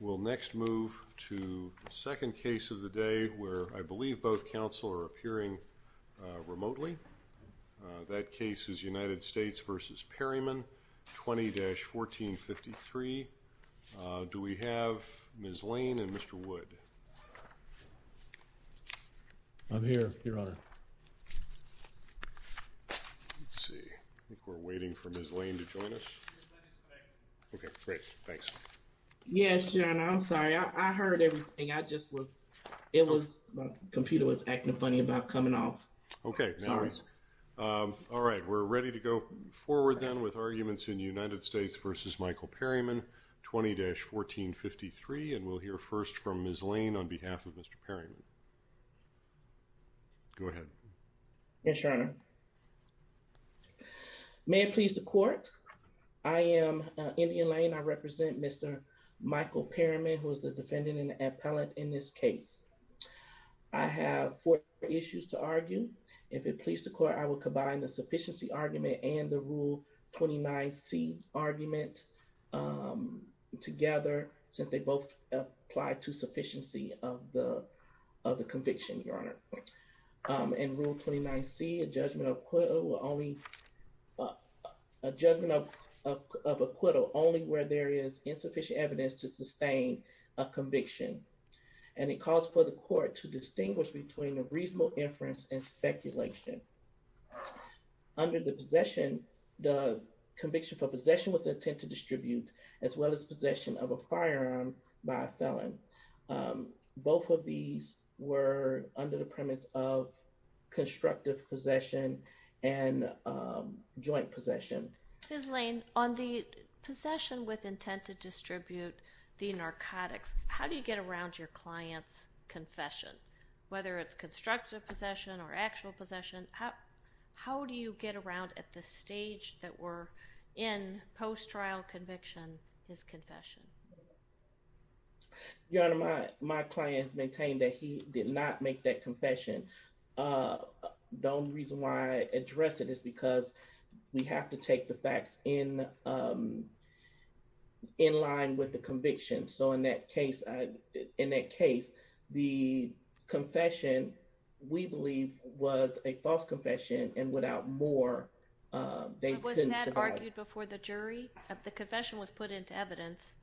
We'll next move to the second case of the day where I believe both counsel are appearing remotely. That case is United States v. Perryman 20-1453. Do we have Ms. Lane and Mr. Wood? I'm here, Your Honor. Let's see, I think we're waiting for Ms. Lane to speak. Yes, Your Honor. I'm sorry. I heard everything. My computer was acting funny about coming off. Okay. All right. We're ready to go forward then with arguments in United States v. Michael Perryman 20-1453 and we'll hear first from Ms. Lane on behalf of Mr. Perryman. Go ahead. Yes, Your Honor. May it please the court, I am in Mr. Perryman who is the defendant and the appellant in this case. I have four issues to argue. If it please the court, I will combine the sufficiency argument and the Rule 29c argument together since they both apply to sufficiency of the conviction, Your Honor. In Rule 29c, a judgment of acquittal only where there is sufficient evidence to sustain a conviction and it calls for the court to distinguish between a reasonable inference and speculation. Under the possession, the conviction for possession with the intent to distribute as well as possession of a firearm by a felon. Both of these were under the premise of constructive possession and joint possession. Ms. Lane, on the issue of the intent to distribute the narcotics, how do you get around your client's confession? Whether it's constructive possession or actual possession, how do you get around at the stage that we're in post-trial conviction his confession? Your Honor, my client maintained that he did not make that confession. The only reason why I have to take the facts in in line with the conviction. So in that case, in that case, the confession we believe was a false confession and without more, they couldn't survive. Was that argued before the jury? The confession was put into evidence?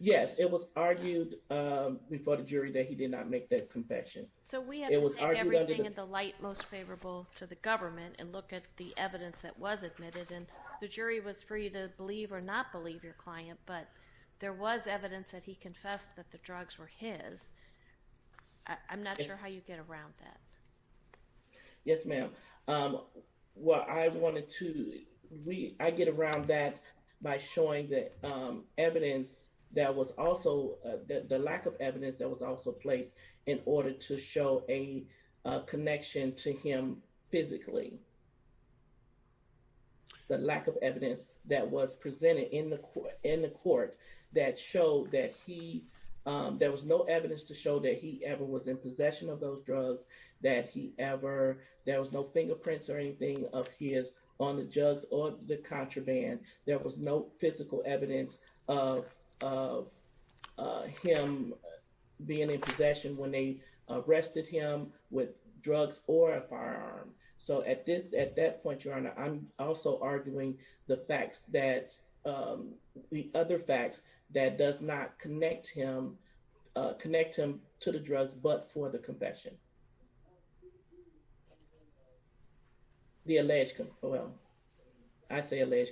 Yes, it was argued before the jury that he did not make that confession. So we have to take everything in the light most favorable to the government and look at the evidence that was admitted. And the jury was free to believe or not believe your client, but there was evidence that he confessed that the drugs were his. I'm not sure how you get around that. Yes, ma'am. What I wanted to read, I get around that by showing the evidence that was also, the lack of evidence that was also placed in order to show a connection to him physically. The lack of evidence that was presented in the court that showed that he, there was no evidence to show that he ever was in possession of those drugs, that he ever, there was no fingerprints or anything of his on the drugs or the contraband. There was no possession when they arrested him with drugs or a firearm. So at this, at that point, Your Honor, I'm also arguing the facts that, the other facts that does not connect him, connect him to the drugs but for the confession. The alleged, well, I possession, the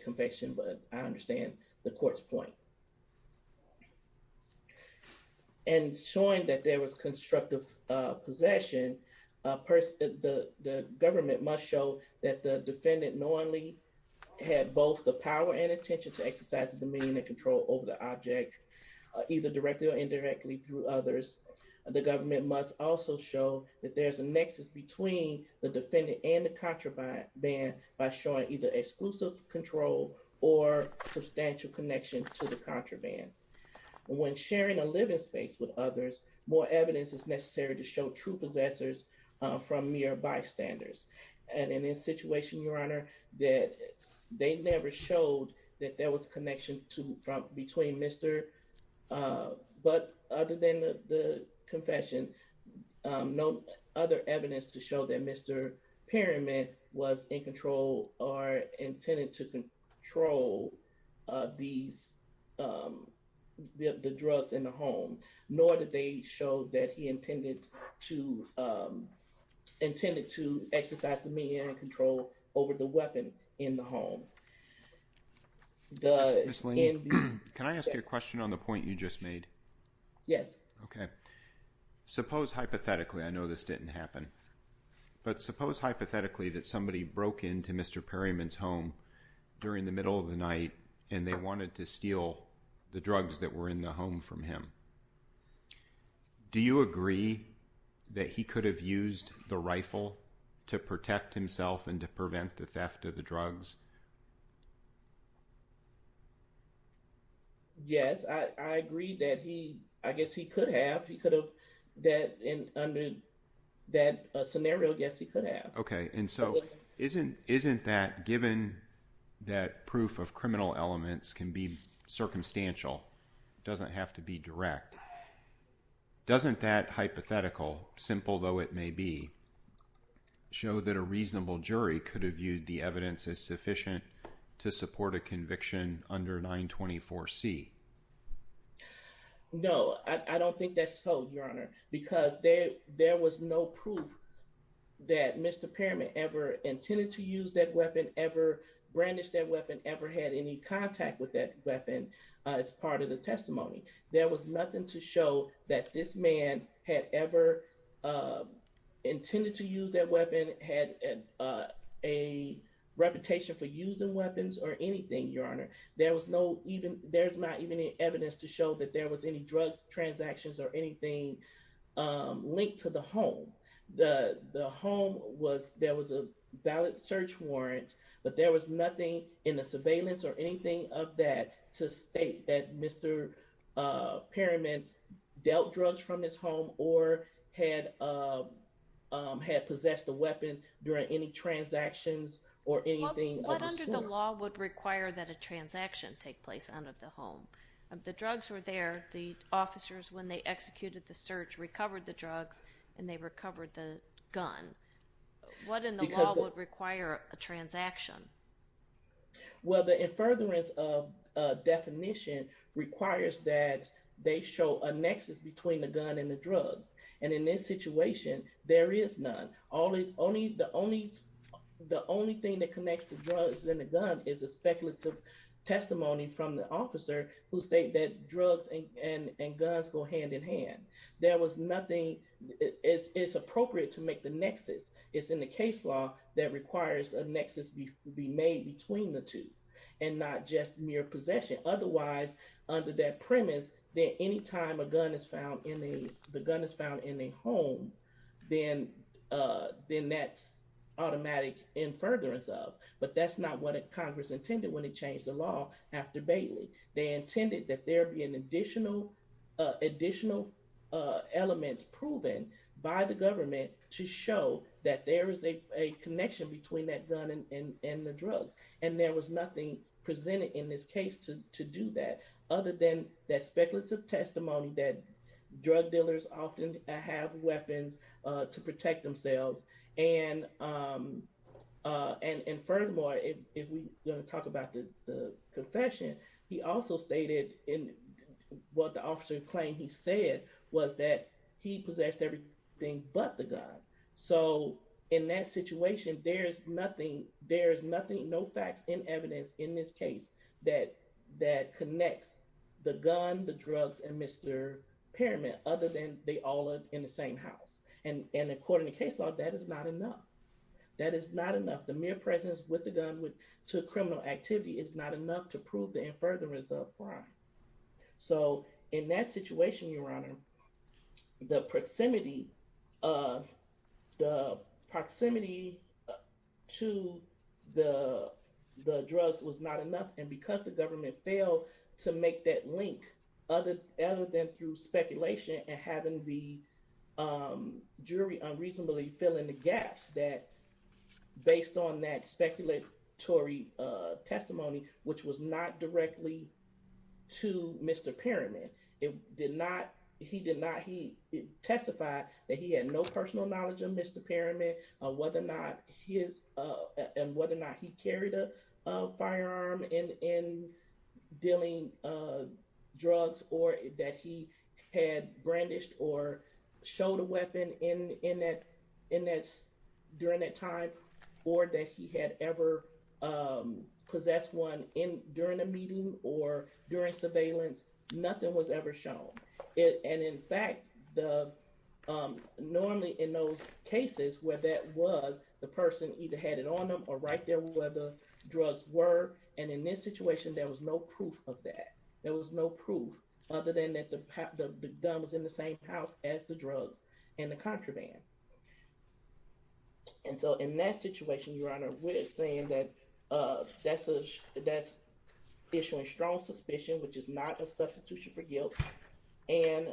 government must show that the defendant knowingly had both the power and attention to exercise the dominion and control over the object, either directly or indirectly through others. The government must also show that there's a nexus between the defendant and the contraband by showing either exclusive control or substantial connection to the contraband. When sharing a living space with others, more evidence is necessary to show true possessors from mere bystanders. And in this situation, Your Honor, that they never showed that there was connection to, from, between Mr., but other than the confession, no other evidence to show that Mr. Perryman was in control or the drugs in the home, nor did they show that he intended to, intended to exercise dominion and control over the weapon in the home. Can I ask you a question on the point you just made? Yes. Okay. Suppose hypothetically, I know this didn't happen, but suppose hypothetically that somebody broke into Mr. Perryman's home during the middle of the night to steal the drugs that were in the home from him. Do you agree that he could have used the rifle to protect himself and to prevent the theft of the drugs? Yes, I agree that he, I guess he could have, he could have, that in, under that scenario, yes, he could have. Okay. And so isn't, isn't that given that proof of criminal elements can be circumstantial, doesn't have to be direct. Doesn't that hypothetical, simple though it may be, show that a reasonable jury could have viewed the evidence as sufficient to support a conviction under 924 C? No, I don't think that's so, Your Honor, because there, there was no proof that Mr. Perryman ever intended to use that weapon, ever brandished that weapon, ever had any contact with that weapon. It's part of the testimony. There was nothing to show that this man had ever intended to use that weapon, had a reputation for using weapons or anything, Your Honor. There was no, even there's not even any evidence to show that there was any drugs transactions or anything linked to the home was, there was a valid search warrant, but there was nothing in the surveillance or anything of that to state that Mr. Perryman dealt drugs from his home or had, had possessed a weapon during any transactions or anything. What under the law would require that a transaction take place out of the home? If the drugs were there, the officers, when they executed the search, recovered the drugs and they recovered the gun, what in the law would require a transaction? Well, the in furtherance of definition requires that they show a nexus between the gun and the drugs. And in this situation, there is none. Only, only the only, the only thing that connects the drugs and the gun is a speculative testimony from the officer who state that drugs and, and, and guns go hand in hand. There was nothing, it's, it's appropriate to make the nexus. It's in the case law that requires a nexus be made between the two and not just mere possession. Otherwise under that premise, that anytime a gun is found in the, the gun is found in a home, then then that's automatic in furtherance of, but that's not what Congress intended when they changed the law after Bailey. They intended that there be an additional, additional elements proven by the government to show that there is a connection between that gun and, and, and the drugs. And there was nothing presented in this case to, to do that other than that speculative testimony that drug dealers often have weapons to protect themselves. And, and, and furthermore, if we talk about the confession, he also stated in what the officer claimed he said was that he possessed everything but the gun. So in that situation, there's nothing, there's nothing, no facts and evidence in this case that, that connects the gun, the drugs, and Mr. Pyramid other than they all live in the same house. And, and according to case law, that is not enough. That is not enough. The mere presence with the gun to criminal activity is not enough to prove the in furtherance of crime. So in that situation, your honor, the proximity of the proximity to the, the drugs was not enough. And because the government failed to make that link other than through speculation and having the jury unreasonably fill in the gaps that based on that speculatory testimony, which was not directly to Mr. Pyramid, it did not, he did not, he testified that he had no personal knowledge of Mr. Pyramid on whether or not his, and whether or not he carried a firearm in, in dealing drugs or that he had brandished or showed a weapon in, in that, in that during that time or that he had ever possessed one in during a meeting or during surveillance, nothing was ever shown it. And in fact, the normally in those cases where that was, the person either had it on them or right there where the drugs were. And in this situation, there was no proof of that. There was no proof other than that the, the gun was in the same house as the And so in that situation, Your Honor, we're saying that that's a, that's issuing strong suspicion, which is not a substitution for guilt. And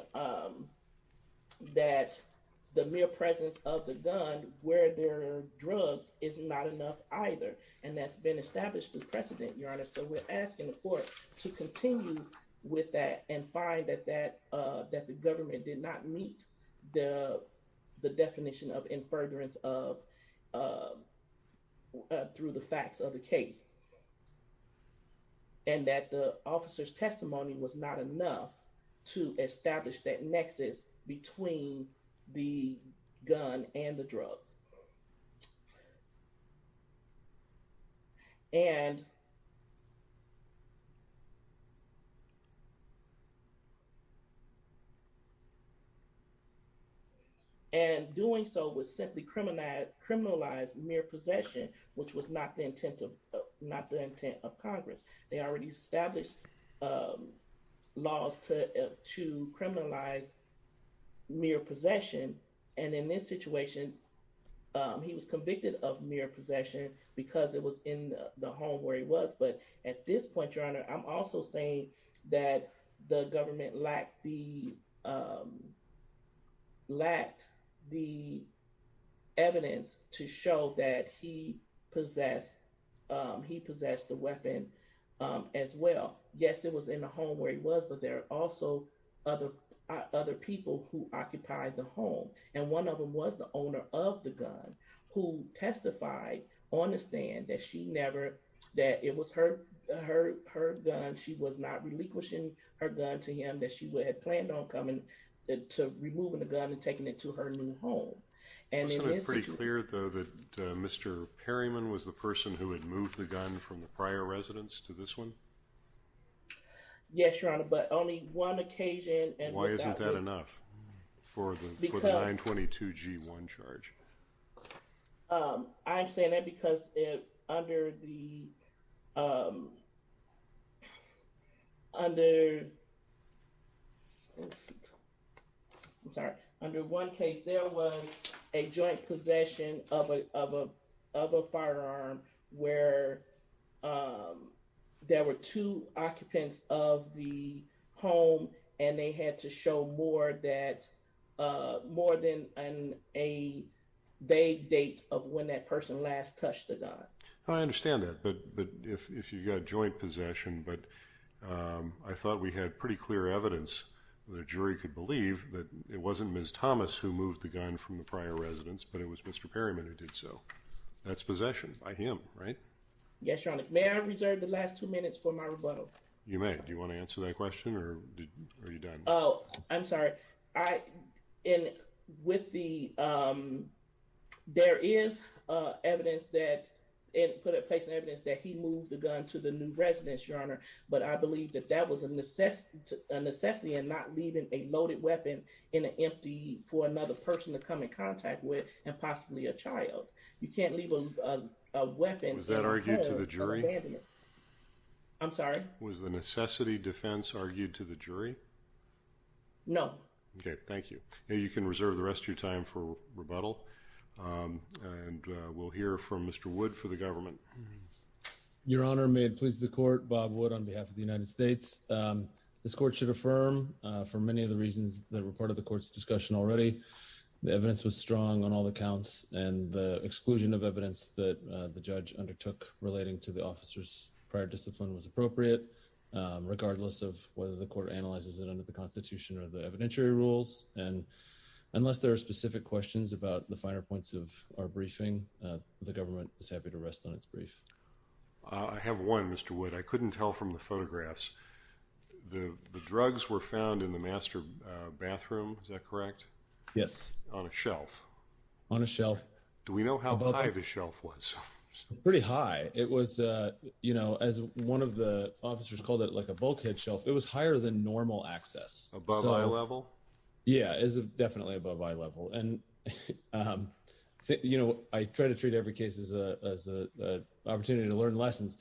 that the mere presence of the gun where there are drugs is not enough either. And that's been established as precedent, Your Honor. So we're asking the court to continue with that and find that, that, that the government did not meet the, the definition of in furtherance of, through the facts of the case. And that the officer's testimony was not enough to establish that nexus between the gun and the drugs. And and doing so was simply criminalized, criminalized mere possession, which was not the intent of, not the intent of Congress. They already established laws to, to criminalize mere possession. And in this situation, he was convicted of mere possession because it was in the home where he was. But at this point, Your Honor, I'm also saying that the government lacked the, lacked the evidence to show that he possessed, he possessed the weapon as well. Yes, it was in the home where he was, but there are also other, other people who occupied the home. And one of them was the owner of the gun who testified on her gun. She was not relinquishing her gun to him that she would have planned on coming to removing the gun and taking it to her new home. And it is pretty clear though that Mr. Perryman was the person who had moved the gun from the prior residence to this one. Yes, Your Honor, but only one occasion. And why isn't that enough for the 922 G one charge? I'm saying that because under the, under, I'm sorry, under one case, there was a joint possession of a, of a, of a firearm where there were two occupants of the home and they had to show more that, uh, more than a vague date of when that person last touched the gun. I understand that. But, but if, if you've got joint possession, but, um, I thought we had pretty clear evidence that a jury could believe that it wasn't Ms. Thomas who moved the gun from the prior residence, but it was Mr. Perryman who did so. That's possession by him, right? Yes, Your Honor. May I reserve the last two minutes for my rebuttal? You may. Do you want to answer that question or are you done? Oh, I'm sorry. I, in with the, um, there is evidence that it put in place evidence that he moved the gun to the new residence, Your Honor. But I believe that that was a necessity, a necessity and not leaving a loaded weapon in an empty for another person to come in contact with and possibly a child. You can't leave a weapon. Was that argued to the jury? I'm sorry. Was the necessity defense argued to the jury? No. Okay. Thank you. You can reserve the rest of your time for rebuttal. Um, and, uh, we'll hear from Mr. Wood for the government. Your Honor, may it please the court. Bob Wood on behalf of the United States. Um, this court should affirm, uh, for many of the reasons that were part of the court's discussion already, the evidence was strong on all the counts and the exclusion of evidence that, uh, the judge undertook relating to the officer's prior discipline was appropriate, um, regardless of whether the court analyzes it under the constitution or the evidentiary rules. And unless there are specific questions about the finer points of our briefing, uh, the government is happy to rest on its brief. Uh, I have one, Mr. Wood. I couldn't tell from the photographs. The drugs were found in the master bathroom. Is that correct? Yes. On a shelf. On a shelf. Do we know how high the shelf was? Pretty high. It was, uh, you know, as one of the officers called it like a bulkhead shelf, it was higher than normal access. Above eye level. Yeah, is definitely above eye level. And, um, you know, I try to treat every case is a, as a, uh, opportunity to learn lessons.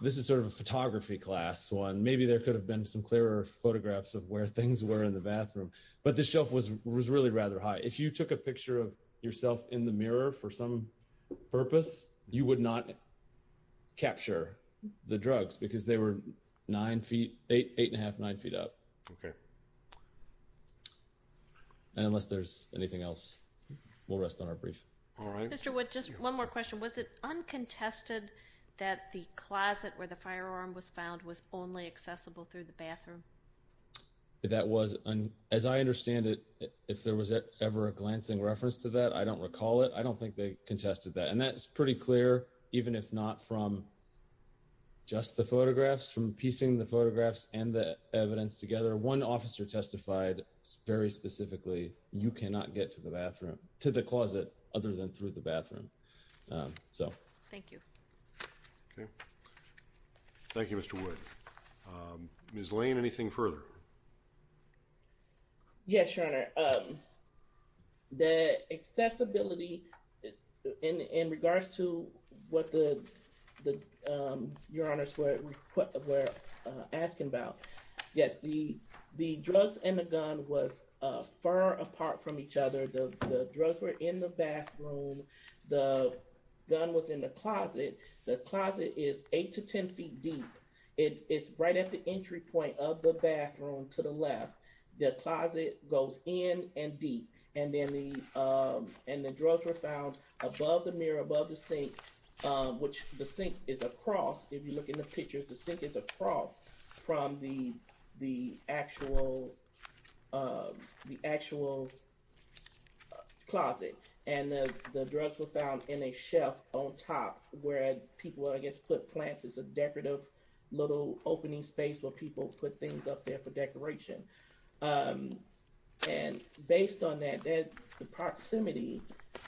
This is sort of a photography class one. Maybe there could have been some clearer photographs of where things were in the bathroom, but this shelf was, was really rather high. If you took a picture of yourself in the mirror for some purpose, you would not capture the drugs because they were nine feet, eight, eight and a half, nine feet up. Okay. And unless there's anything else, we'll rest on our brief. All right. Mr. Wood, just one more question. Was it uncontested that the closet where the firearm was found was only accessible through the bathroom? That was, as I understand it, if there was ever a glancing reference to that, I don't recall it. I don't think they contested that. And that's pretty clear, even if not from just the photographs from piecing the photographs and the evidence together. One officer testified very specifically. You cannot get to the bathroom to the closet other than through the bathroom. So thank you. Okay. Thank you, Mr Wood. Um, Miss Lane, anything further? Yes, your honor. Um, the accessibility in, in regards to what the, um, your honors were asking about, yes, the, the drugs and the gun was, uh, far apart from each other. The drugs were in the bathroom. The gun was in the closet. The closet is eight to 10 feet deep. It's right at the entry point of the bathroom to the left. The closet goes in and deep. And then the, um, and the drugs were found above the mirror above the sink, which the sink is across. If you look in the pictures, the sink is across from the, the actual, uh, the actual closet and the drugs were found in a shelf on top where people, I guess, put plants as a decorative little opening space where people put things up there for decoration. Um, and based on that, that the proximity,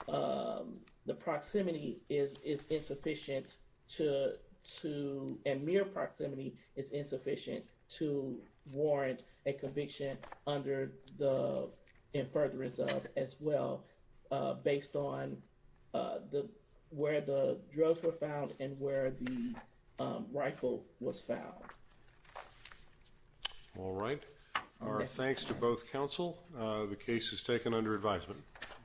um, the proximity is, is insufficient to, to, and mere proximity is insufficient to warrant a conviction under the, in furtherance of as well, uh, based on, uh, the, where the drugs were found and where the, um, rifle was found. All right. Our thanks to both counsel. Uh, the case is taken under advisement.